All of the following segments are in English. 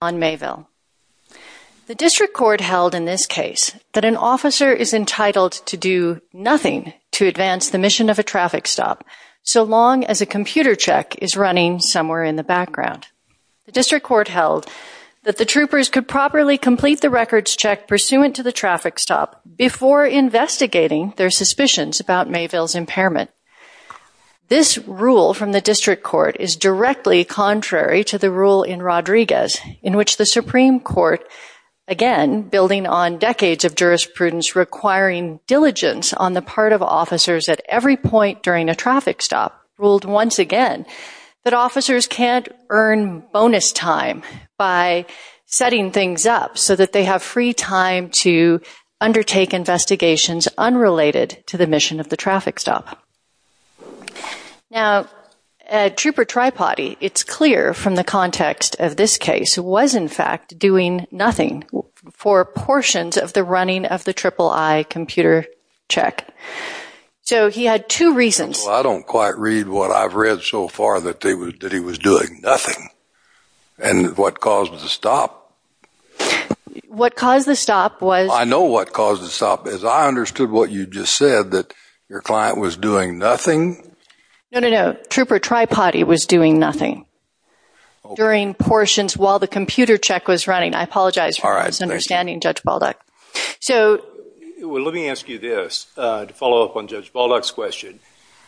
on Mayville. The district court held in this case that an officer is entitled to do nothing to advance the mission of a traffic stop so long as a computer check is running somewhere in the background. The district court held that the troopers could properly complete the records check pursuant to the traffic stop before investigating their suspicions about Mayville's impairment. This rule from the district court is directly contrary to the rule in Rodriguez in which the Supreme Court, again, building on decades of jurisprudence requiring diligence on the part of officers at every point during a traffic stop, ruled once again that officers can't earn bonus time by setting things up so that they have free time to undertake investigations unrelated to the mission of the traffic stop. Now, at Trooper Tri-Potty, it's clear from the context of this case, was in fact doing nothing for portions of the running of the triple I computer check. So he had two reasons. I don't quite read what I've read so far that he was doing nothing and what caused the stop. What caused the stop was... I know what caused the stop. As I understood what you just said, that your client was doing nothing. No, no, no. Trooper Tri-Potty was doing nothing during portions while the computer check was running. I apologize for misunderstanding Judge Balduck. Well, let me ask you this to follow up on Judge Balduck's question.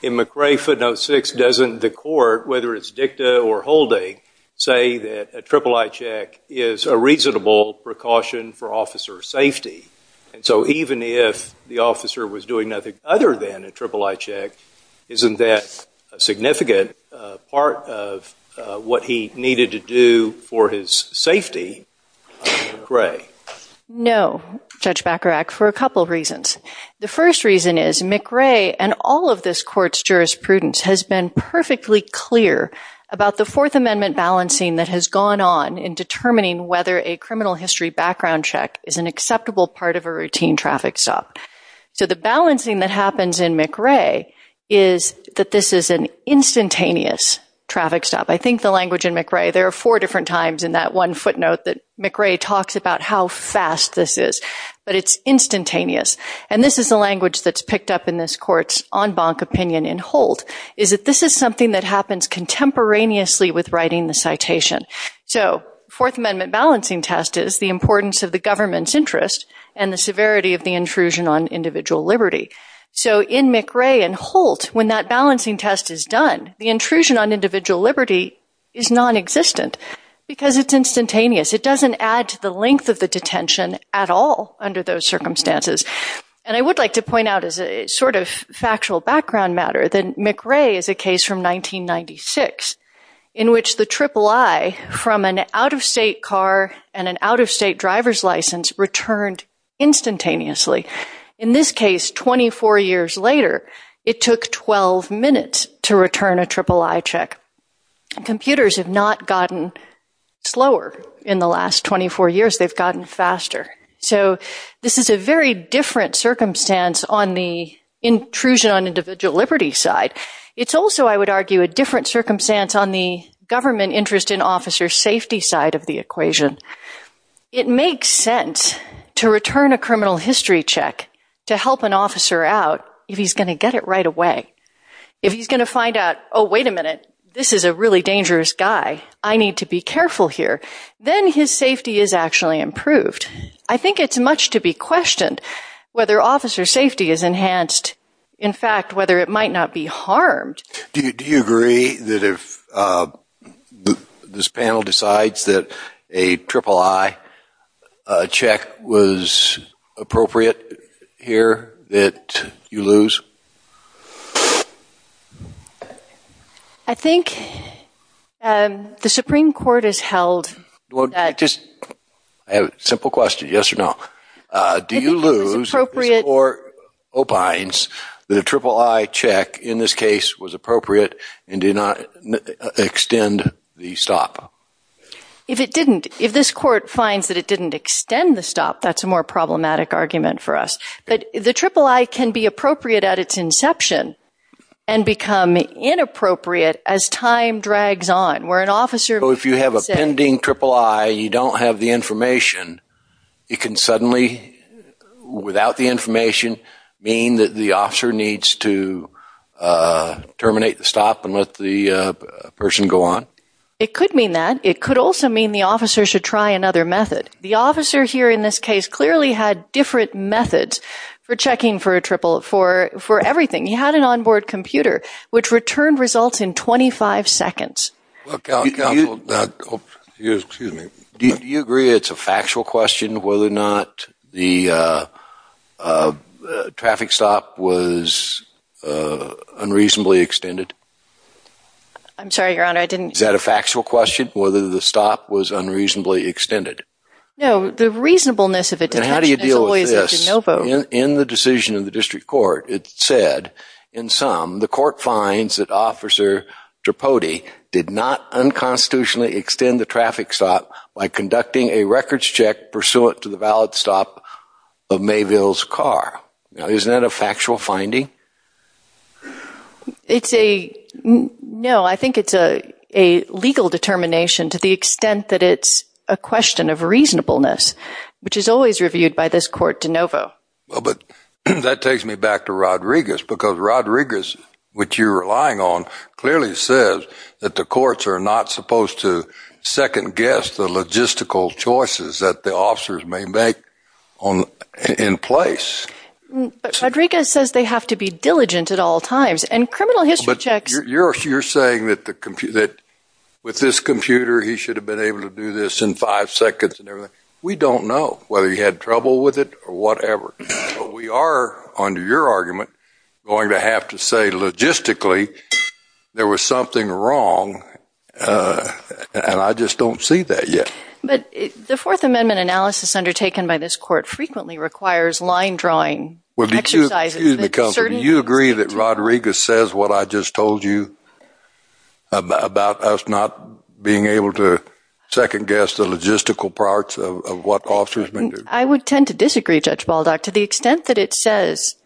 In McRae footnote 6, doesn't the court, whether it's dicta or holding, say that a triple I check is a reasonable precaution for officer safety? And so even if the officer was doing nothing other than a triple I check, isn't that a significant part of what he needed to do for his safety? McRae? No, Judge Bacharach, for a couple of reasons. The first reason is McRae and all of this court's jurisprudence has been perfectly clear about the Fourth Amendment balancing that has gone on in determining whether a criminal history background check is an acceptable part of a routine traffic stop. So the balancing that happens in McRae is that this is an instantaneous traffic stop. I think the language in McRae, there are four different times in that one footnote that McRae talks about how fast this is, but it's instantaneous. And this is the language that's picked up in this court's en banc opinion in hold, is that this is something that happens contemporaneously with writing the citation. So Fourth Amendment balancing test is the importance of the government's interest and the severity of the intrusion on individual liberty. So in McRae and Holt, when that balancing test is done, the intrusion on individual liberty is non-existent because it's instantaneous. It doesn't add to the length of the detention at all under those circumstances. And I would like to point out as a sort of factual background matter that McRae is a case from 1996 in which the triple I from an out-of-state car and an out-of-state driver's license returned instantaneously. In this case, 24 years later, it took 12 minutes to return a triple I check. Computers have not gotten slower in the last 24 years. They've gotten faster. So this is a very different circumstance on the intrusion on individual liberty side. It's also, I would argue, a government interest in officer safety side of the equation. It makes sense to return a criminal history check to help an officer out if he's going to get it right away. If he's going to find out, oh, wait a minute, this is a really dangerous guy. I need to be careful here. Then his safety is actually improved. I think it's much to be questioned whether officer safety is enhanced. In fact, whether it might not be harmed. Do you agree that if this panel decides that a triple I check was appropriate here that you lose? I think the Supreme Court has held that Just a simple question, yes or no. Do you lose or opines that a triple I check in this case was appropriate and did not extend the stop? If it didn't, if this court finds that it didn't extend the stop, that's a more problematic argument for us. But the triple I can be appropriate at its inception and become inappropriate as time drags on. If you have a pending triple I, you don't have the information, it can terminate the stop and let the person go on? It could mean that. It could also mean the officer should try another method. The officer here in this case clearly had different methods for checking for a triple, for everything. He had an onboard computer which returned results in 25 seconds. Do you agree it's a factual question whether or not the traffic stop was unreasonably extended? I'm sorry, Your Honor, I didn't Is that a factual question, whether the stop was unreasonably extended? No, the reasonableness of a detention is always a de novo. In the decision of the district court, it said, in sum, the court finds that Officer Tripodi did not unconstitutionally extend the traffic stop by conducting a records check pursuant to the valid stop of Mayville's car. Now, isn't that a factual finding? It's a, no, I think it's a legal determination to the extent that it's a question of reasonableness, which is always reviewed by this court de novo. Well, but that takes me back to Rodriguez, because Rodriguez, which you're relying on, clearly says that the courts are not supposed to second guess the logistical choices that the officers may make in place. But Rodriguez says they have to be diligent at all times, and criminal history checks But you're saying that with this computer, he should have been able to do this in five seconds and everything. We don't know whether he had trouble with it or whatever. But we are, under your argument, going to have to say logistically there was something wrong, and I just don't see that yet. But the Fourth Amendment analysis undertaken by this court frequently requires line drawing Well, do you agree that Rodriguez says what I just told you about us not being able to second guess the logistical parts of what officers may do? I would tend to disagree, Judge Baldock, to the extent that it says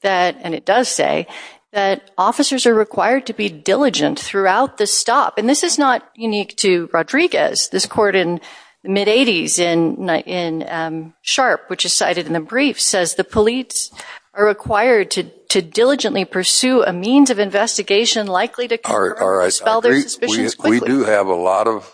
that, and it does say, that officers are required to be diligent throughout the stop. And this is not unique to Rodriguez. This court in the mid-80s in Sharp, which is cited in the brief, says the police are required to diligently pursue a means of investigation likely to confirm or dispel their suspicions quickly. We do have a lot of,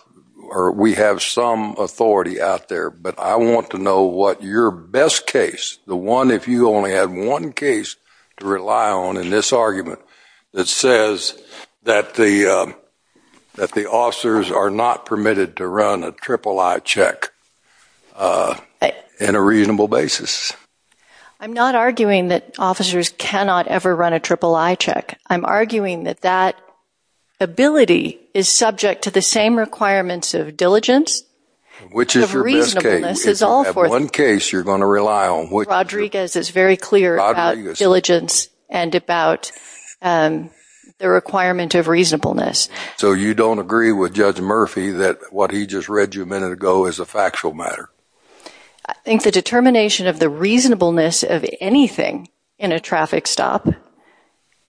or we have some authority out there, but I want to know what your best case, the one if you only had one case to rely on in this argument, that says that the officers are not permitted to run a triple-I check in a reasonable basis? I'm not arguing that officers cannot ever run a triple-I check. I'm arguing that that ability is subject to the same requirements of diligence, of reasonableness, of all four things. Which is your best case? The one case you're going to rely on. Rodriguez is very clear about diligence and about the requirement of reasonableness. So you don't agree with Judge Murphy that what he just read to you a minute ago is a factual matter? I think the determination of the reasonableness of anything in a traffic stop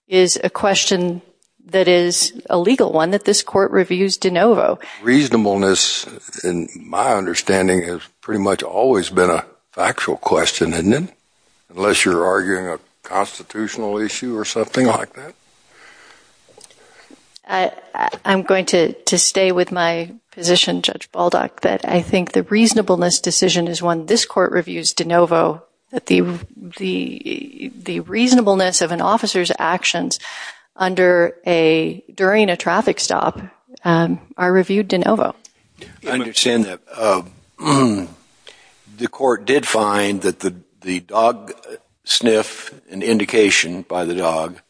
is a question that is a legal one that this court reviews de novo. Reasonableness, in my understanding, has pretty much always been a factual question, isn't it? Unless you're arguing a constitutional issue or something like that? I'm going to stay with my position, Judge Baldock, that I think the reasonableness decision is one this court reviews de novo, that the reasonableness of an officer's actions during a traffic stop are reviewed de novo. I understand that. The court did find that the dog sniff, an indication by the dog,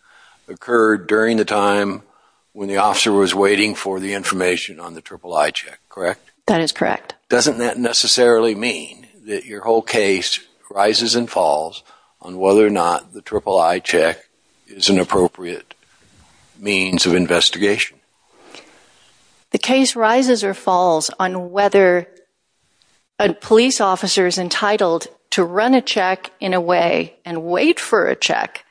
occurred during the time when the officer was waiting for the information on the triple I check, correct? That is correct. Doesn't that necessarily mean that your whole case rises and falls on whether or not the triple I check is an appropriate means of investigation? The case rises or falls on whether a police officer is entitled to run a check in a way and wait for a check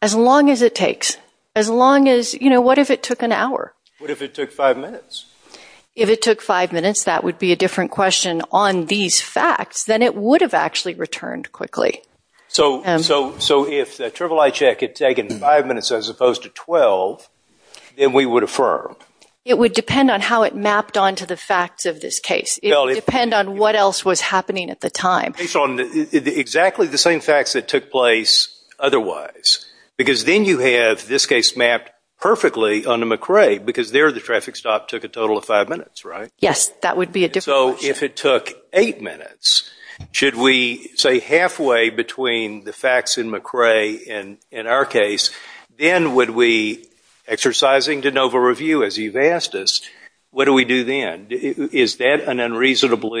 as long as it takes, as long as, you know, what if it took an hour? What if it took five minutes? If it took five minutes, that would be a different question on these facts than it would have actually returned quickly. So if the triple I check had taken five minutes as opposed to 12, then we would affirm? It would depend on how it mapped onto the facts of this case. It would depend on what else was happening at the time. Based on exactly the same facts that took place otherwise, because then you have this case mapped perfectly onto McRae, because there the traffic stop took a total of five minutes, right? Yes, that would be a different question. So if it took eight minutes, should we say halfway between the facts in McRae and in our case, then would we, exercising de novo review as you've asked us, what do we do then? Is that an unreasonable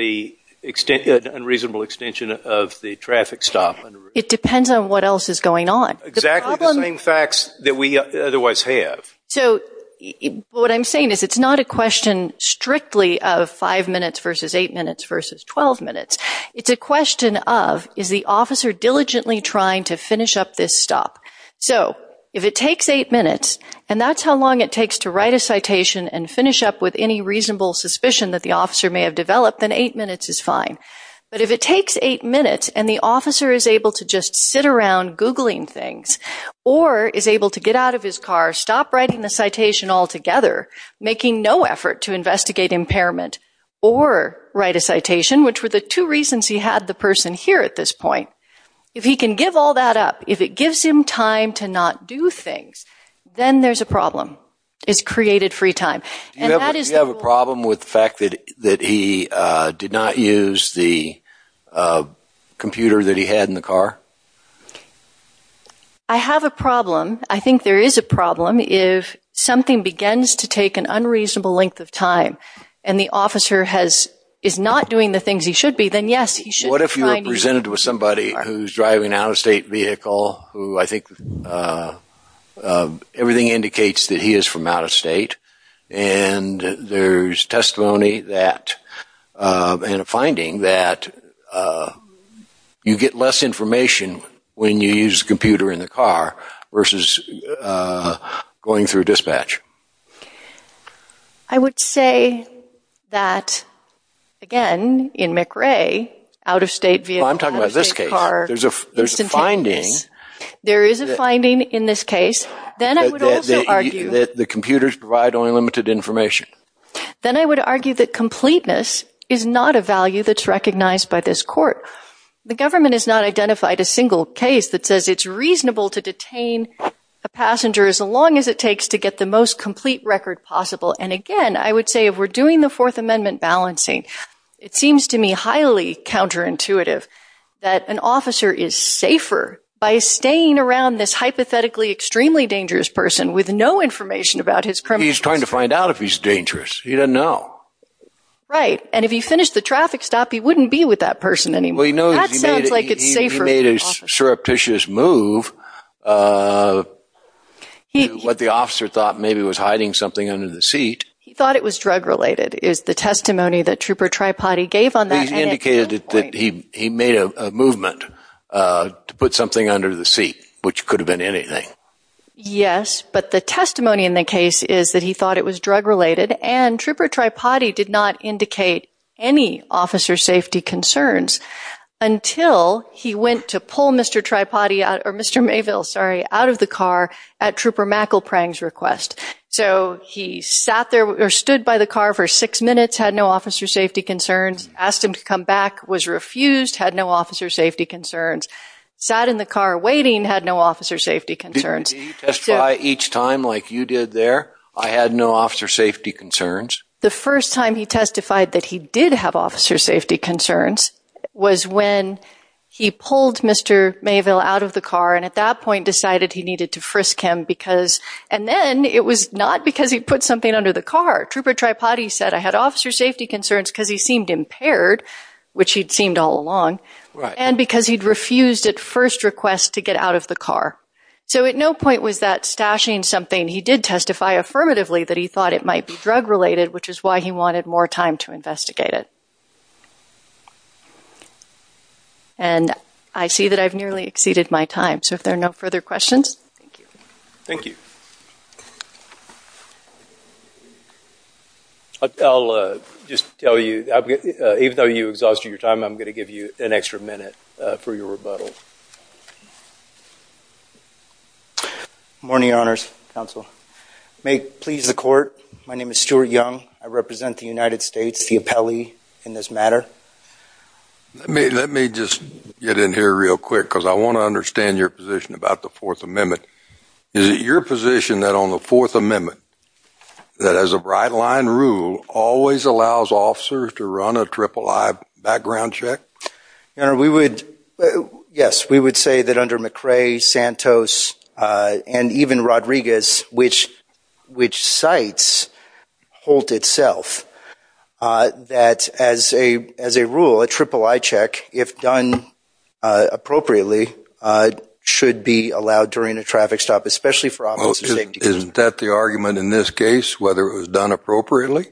extension of the traffic stop? It depends on what else is going on. Exactly the same facts that we otherwise have. So what I'm saying is it's not a question strictly of five minutes versus eight minutes versus 12 minutes. It's a question of, is the officer diligently trying to finish up this stop? So if it takes eight minutes, and that's how long it takes to write a citation and finish up with any reasonable suspicion that the officer may have developed, then eight minutes is fine. But if it takes eight minutes, and the officer is able to just sit around Googling things, or is able to get out of his car, stop writing the citation altogether, making no effort to investigate impairment, or write a citation, which were the two reasons he had the person here at this point. If he can give all that up, if it gives him time to not do things, then there's a problem. It's created free time. Do you have a problem with the fact that he did not use the computer that he had in the car? I have a problem. I think there is a problem. If something begins to take an unreasonable length of time, and the officer is not doing the things he should be, then yes, he should try… What if you were presented with somebody who's driving an out-of-state vehicle, who I think everything indicates that he is from out-of-state, and there's testimony that, and a finding that you get less information when you use the computer in the car, versus going through dispatch? I would say that, again, in McRae, out-of-state vehicle, out-of-state car, instantaneous, there is a finding in this case, then I would also argue that completeness is not a value that's recognized by this court. The government has not identified a single case that says it's reasonable to detain a passenger as long as it takes to get the most complete record possible, and again, I would say if we're doing the Fourth Amendment balancing, it seems to me highly counterintuitive that an officer is safer by staying around this hypothetically extremely dangerous person with no information about his criminal history. He's trying to find out if he's dangerous, he doesn't know. Right, and if he finished the traffic stop, he wouldn't be with that person anymore. That sounds like it's safer. Well, you know, he made a surreptitious move, what the officer thought maybe was hiding something under the seat. He thought it was drug-related, is the testimony that Trooper Tripodi gave on that. He indicated that he made a movement to put something under the seat, which could have been anything. Yes, but the testimony in the case is that he thought it was drug-related, and Trooper Tripodi did not indicate any officer safety concerns until he went to pull Mr. Tripodi out, or Mr. Mayville, sorry, out of the car at Trooper McElprang's request. So he sat there, or stood by the car for six minutes, had no officer safety concerns, asked him to come back, was refused, had no officer safety concerns. Sat in the car waiting, had no officer safety concerns. Did he testify each time, like you did there, I had no officer safety concerns? The first time he testified that he did have officer safety concerns was when he pulled Mr. Mayville out of the car, and at that point decided he needed to frisk him because, and then it was not because he put something under the car. Trooper Tripodi said, I had officer safety concerns because he seemed impaired, which he'd seemed all along, and because he'd refused at first request to get out of the car. So at no point was that stashing something. He did testify affirmatively that he thought it might be drug-related, which is why he wanted more time to investigate it. And I see that I've nearly exceeded my time, so if there are no further questions, thank you. Thank you. I'll just tell you, even though you exhausted your time, I'm going to give you an extra minute for your rebuttal. Good morning, Your Honors, Counsel. May it please the Court, my name is Stuart Young. I represent the United States, the appellee in this matter. Let me just get in here real quick, because I want to understand your position about the Fourth Amendment. Is it your position that on the Fourth Amendment, that as a right-line rule, always allows officers to run a triple-I background check? Your Honor, yes, we would say that under McRae, Santos, and even Rodriguez, which cites Holt itself, that as a rule, a triple-I check, if done appropriately, should be allowed during a traffic stop, especially for officer safety. Well, isn't that the argument in this case, whether it was done appropriately?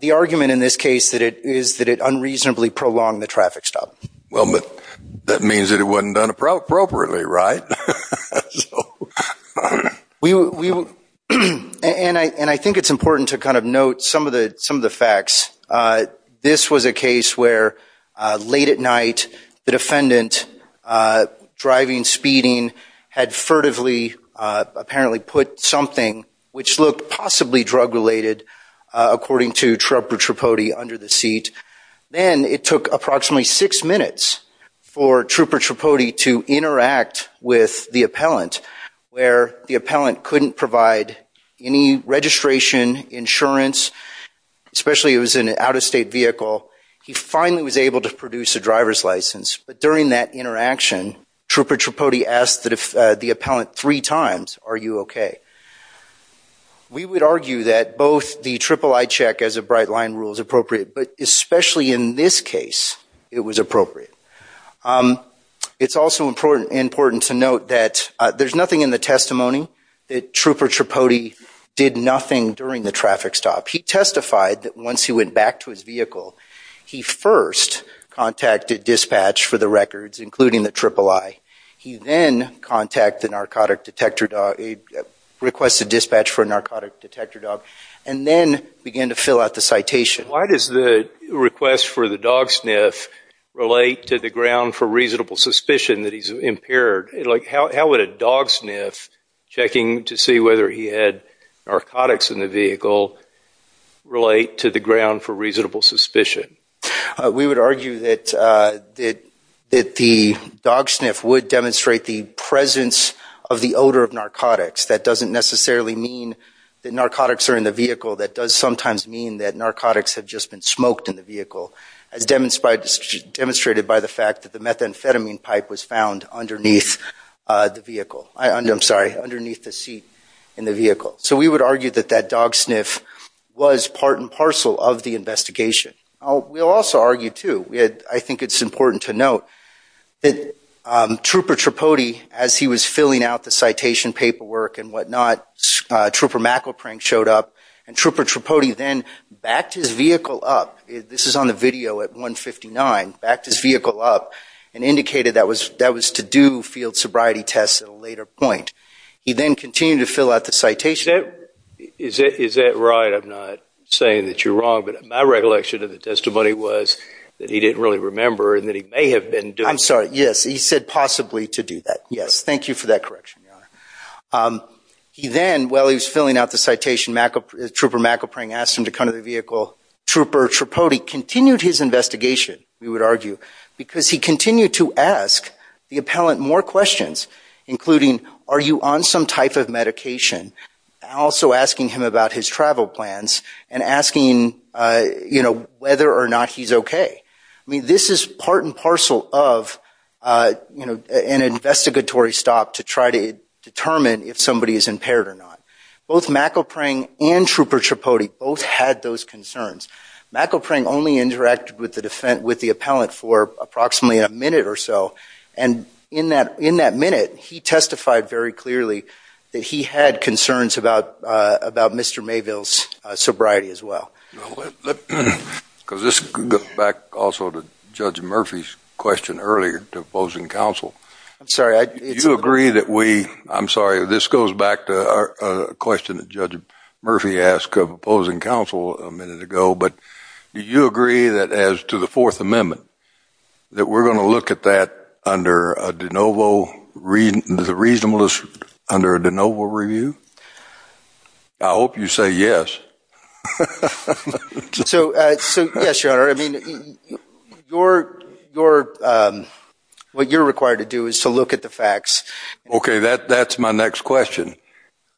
The argument in this case is that it unreasonably prolonged the traffic stop. Well, but that means that it wasn't done appropriately, right? And I think it's important to kind of note some of the facts. This was a case where late at night, the defendant, driving, speeding, had furtively apparently put something, which looked possibly drug-related, according to Trooper Tripodi under the seat. Then it took approximately six minutes for Trooper Tripodi to interact with the appellant, where the appellant couldn't provide any registration, insurance, especially it was an out-of-state vehicle. He finally was able to produce a driver's license, but during that interaction, Trooper Tripodi asked the appellant three times, are you okay? We would argue that both the triple I check as a bright line rule is appropriate, but especially in this case, it was appropriate. It's also important to note that there's nothing in the testimony that Trooper Tripodi did nothing during the traffic stop. He testified that once he went back to his vehicle, he first contacted dispatch for the records, including the triple I. He then contacted the narcotic detector, requested dispatch for a narcotic detector dog, and then began to fill out the citation. Why does the request for the dog sniff relate to the ground for reasonable suspicion that he's impaired? How would a dog sniff, checking to see whether he had narcotics in the vehicle, relate to the ground for reasonable suspicion? We would argue that the dog sniff would demonstrate the presence of the odor of narcotics. That doesn't necessarily mean that narcotics are in the vehicle. That does sometimes mean that narcotics have just been smoked in the vehicle, as demonstrated by the fact that the methamphetamine pipe was found underneath the seat in the vehicle. So we would argue that that dog sniff was part and parcel of the investigation. We'll also argue, too, I think it's important to note, that Trooper Tripodi, as he was filling out the citation paperwork and whatnot, Trooper McElprine showed up, and Trooper Tripodi then backed his vehicle up. This is on the video at 159. Backed his vehicle up and indicated that was to do field sobriety tests at a later point. He then continued to fill out the citation. Is that right? I'm not saying that you're wrong, but my recollection of the testimony was that he didn't really remember and that he may have been doing... I'm sorry. Yes, he said possibly to do that. Yes. Thank you for that correction, Your Honor. He then, while he was filling out the citation, Trooper McElprine asked him to come to the vehicle. Trooper Tripodi continued his investigation, we would argue, because he continued to ask the appellant more questions, including, are you on some type of medication? Also asking him about his travel plans and asking whether or not he's okay. This is part and parcel of an investigatory stop to try to determine if somebody is impaired or not. Both McElprine and Trooper Tripodi both had those concerns. McElprine only interacted with the appellant for approximately a minute or so, and in that minute he testified very clearly that he had concerns about Mr. Mayville's sobriety as well. Because this goes back also to Judge Murphy's question earlier to opposing counsel. I'm sorry. Do you agree that we... I'm sorry. This goes back to a question that Judge Murphy asked of opposing counsel a minute ago. But do you agree that as to the Fourth Amendment, that we're going to look at that under a de novo, the reasonableness under a de novo review? I hope you say yes. So, yes, Your Honor. I mean, what you're required to do is to look at the facts. Okay, that's my next question.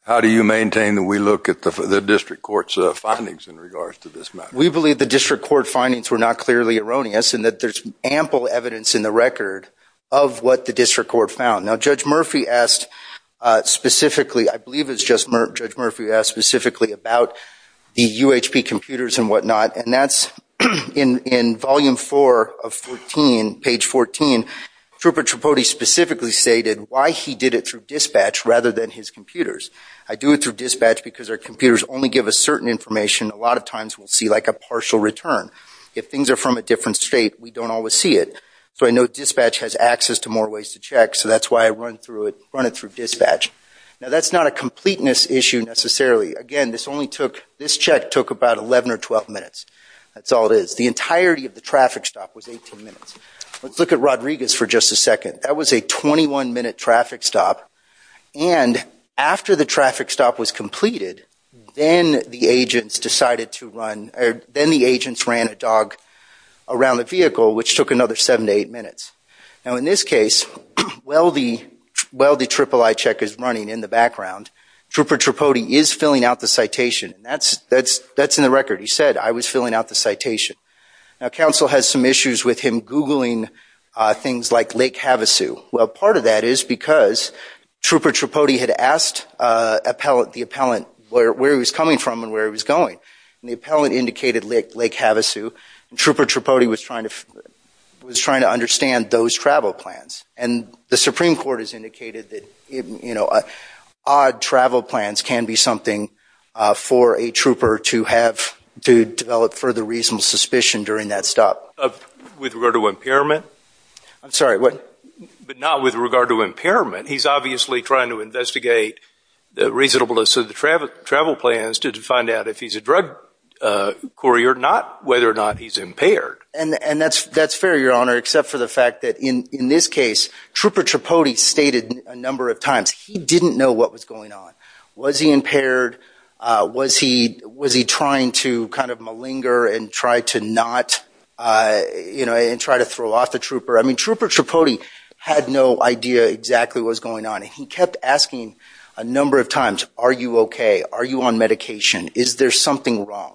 How do you maintain that we look at the district court's findings in regards to this matter? We believe the district court findings were not clearly erroneous and that there's ample evidence in the record of what the district court found. Now, Judge Murphy asked specifically, I believe it's Judge Murphy who asked specifically about the UHP computers and whatnot, and that's in volume four of 14, page 14, Trooper Tripodi specifically stated why he did it through dispatch rather than his computers. I do it through dispatch because our computers only give us certain information. A lot of times we'll see like a partial return. If things are from a different state, we don't always see it. So I know dispatch has access to more ways to check, so that's why I run it through dispatch. Now, that's not a completeness issue necessarily. Again, this check took about 11 or 12 minutes. That's all it is. The entirety of the traffic stop was 18 minutes. Let's look at Rodriguez for just a second. That was a 21-minute traffic stop, and after the traffic stop was completed, then the agents decided to run, or then the agents ran a dog around the vehicle, which took another seven to eight minutes. Now, in this case, while the III check is running in the background, Trooper Tripodi is filling out the citation. That's in the record. He said, I was filling out the citation. Now, counsel has some issues with him Googling things like Lake Havasu. Well, part of that is because Trooper Tripodi had asked the appellant where he was coming from and where he was going, and the appellant indicated Lake Havasu, and Trooper Tripodi was trying to understand those travel plans. And the Supreme Court has indicated that odd travel plans can be something for a trooper to have to develop further reasonable suspicion during that stop. With regard to impairment? I'm sorry, what? But not with regard to impairment. He's obviously trying to investigate the reasonableness of the travel plans to find out if he's a drug courier, not whether or not he's impaired. And that's fair, Your Honor, except for the fact that in this case, Trooper Tripodi stated a number of times he didn't know what was going on. Was he impaired? Was he trying to kind of malinger and try to not, you know, and try to throw off the trooper? I mean, Trooper Tripodi had no idea exactly what was going on, and he kept asking a number of times, are you okay? Are you on medication? Is there something wrong?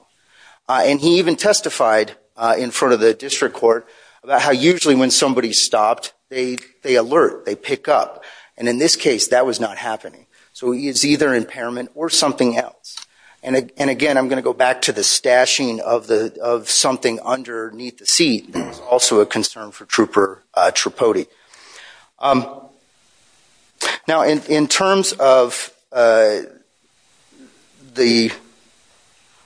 And he even testified in front of the district court about how usually when somebody's stopped, they alert, they pick up. And in this case, that was not happening. So it's either impairment or something else. And again, I'm going to go back to the stashing of something underneath the seat, also a concern for Trooper Tripodi. Now, in terms of the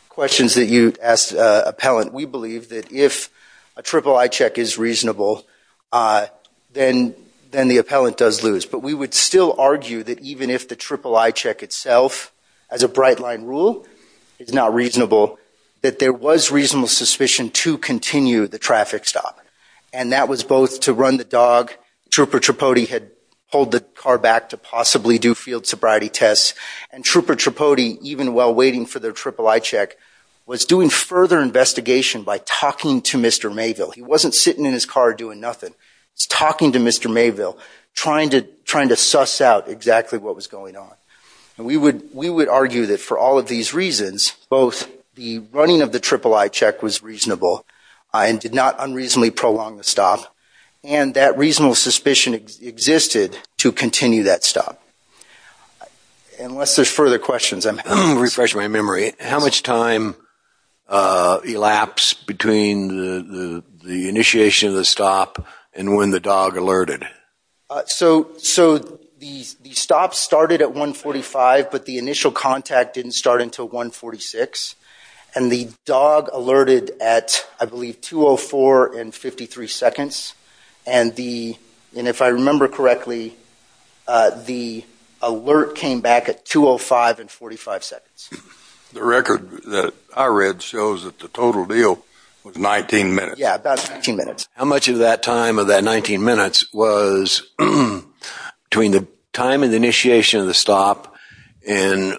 questions that you asked the appellant, we believe that if a triple I check is reasonable, then the appellant does lose. But we would still argue that even if the triple I check itself, as a bright line rule, is not reasonable, that there was reasonable suspicion to continue the traffic stop. And that was both to run the dog, Trooper Tripodi had pulled the car back to possibly do field sobriety tests. And Trooper Tripodi, even while waiting for their triple I check, was doing further investigation by talking to Mr. Mayville. He wasn't sitting in his car doing nothing. He's talking to Mr. Mayville, trying to suss out exactly what was going on. And we would argue that for all of these reasons, both the running of the triple I check was reasonable and did not unreasonably prolong the stop. And that reasonable suspicion existed to continue that stop. Unless there's further questions, I'm happy to refresh my memory. How much time elapsed between the initiation of the stop and when the dog alerted? So the stop started at 145, but the initial contact didn't start until 146. And the dog alerted at, I believe, 204 and 53 seconds. And if I remember correctly, the alert came back at 205 and 45 seconds. The record that I read shows that the total deal was 19 minutes. Yeah, about 19 minutes. How much of that time of that 19 minutes was between the time of the initiation of the stop and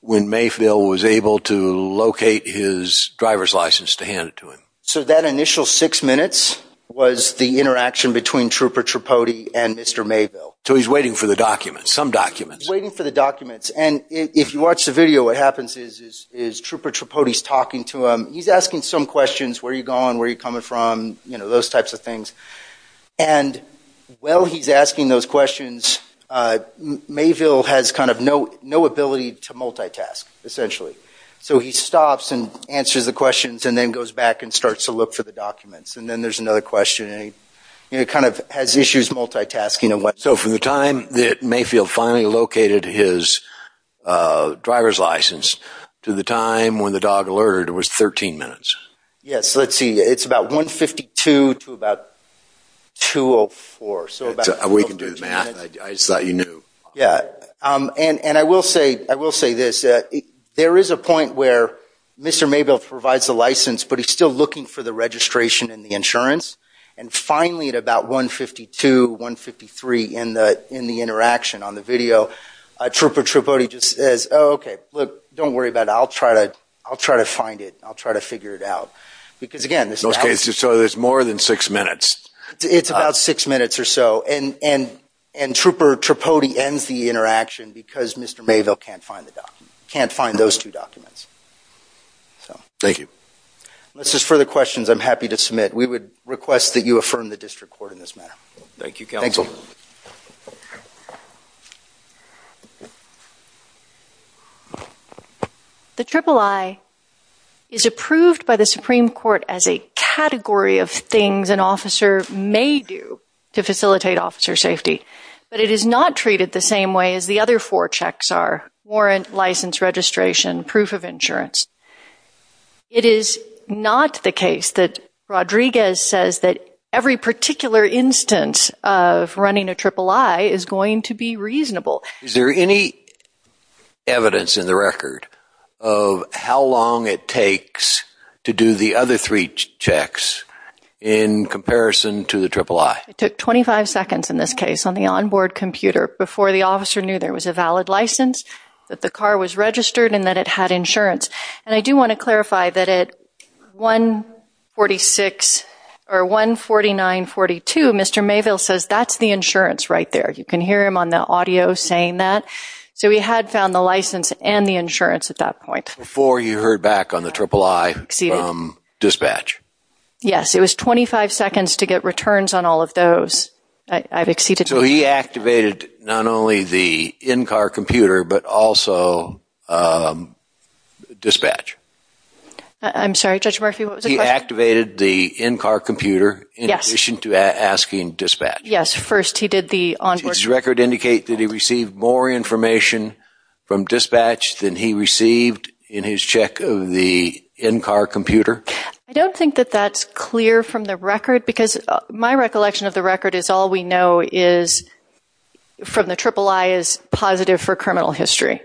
when Mayville was able to locate his driver's license to hand it to him? So that initial six minutes was the interaction between Trooper Tripodi and Mr. Mayville. So he's waiting for the documents, some documents. He's waiting for the documents. And if you watch the video, what happens is Trooper Tripodi is talking to him. He's asking some questions. Where are you going? Where are you coming from? You know, those types of things. And while he's asking those questions, Mayville has kind of no ability to multitask, essentially. So he stops and answers the questions and then goes back and starts to look for the documents. And then there's another question and he kind of has issues multitasking. So from the time that Mayville finally located his driver's license to the time when the dog alerted was 13 minutes. Yes, let's see. It's about 1.52 to about 2.04. So about 12 minutes. We can do the math. I just thought you knew. Yeah. And I will say, I will say this. There is a point where Mr. Mayville provides the license, but he's still looking for the registration and the insurance. And finally, at about 1.52, 1.53 in the interaction on the video, Trooper Tripodi just says, oh, okay, look, don't worry about it. I'll try to find it. I'll try to figure it out. Because again, this is... So there's more than six minutes. It's about six minutes or so. And Trooper Tripodi ends the interaction because Mr. Mayville can't find the document, can't find those two documents. So... Thank you. Unless there's further questions, I'm happy to submit. We would request that you affirm the district court in this matter. Thank you, counsel. Thanks, Will. The III is approved by the Supreme Court as a category of things an officer may do to facilitate officer safety, but it is not treated the same way as the other four checks are, warrant, license, registration, proof of insurance. It is not the case that Rodriguez says that every particular instance of running a III is going to be reasonable. Is there any evidence in the record of how long it takes to do the other three checks in comparison to the III? It took 25 seconds in this case on the onboard computer before the officer knew there was a valid license, that the car was registered, and that it had insurance. And I do want to clarify that at 149.42, Mr. Mayville says that's the insurance right there. You can hear him on the audio saying that. So he had found the license and the insurance at that point. Before you heard back on the III from dispatch? Yes. It was 25 seconds to get returns on all of those. I've exceeded... So he activated not only the in-car computer, but also dispatch. I'm sorry, Judge Murphy, what was the question? He activated the in-car computer in addition to asking dispatch. Yes, first he did the onboard... Does the record indicate that he received more information from dispatch than he received in his check of the in-car computer? I don't think that that's clear from the record, because my recollection of the record is all we know is, from the III, is positive for criminal history.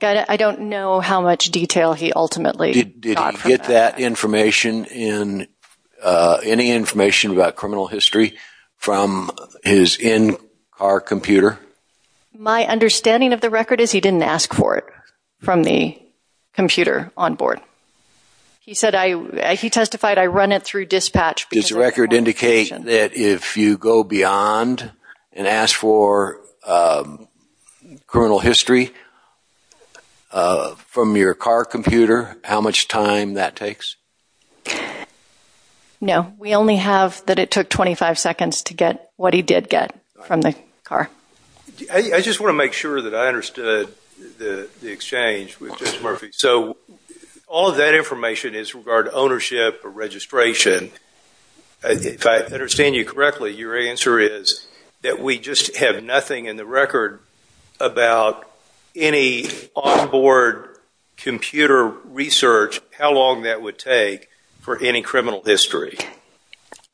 I don't know how much detail he ultimately got from that. Did he get that information, any information about criminal history, from his in-car computer? My understanding of the record is he didn't ask for it from the computer onboard. He said, he testified, I run it through dispatch. Does the record indicate that if you go beyond and ask for criminal history from your car computer, how much time that takes? No, we only have that it took 25 seconds to get what he did get from the car. I just want to make sure that I understood the exchange with Judge Murphy. So, all of that information is regarding ownership or registration. If I understand you correctly, your answer is that we just have nothing in the record about any onboard computer research, how long that would take for any criminal history.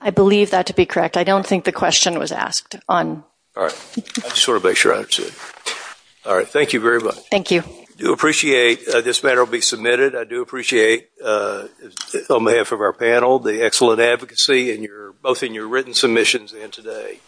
I believe that to be correct. I don't think the question was asked. I just want to make sure I understood. Thank you very much. Thank you. I do appreciate this matter will be submitted. I do appreciate, on behalf of our panel, the excellent advocacy, both in your written submissions and today.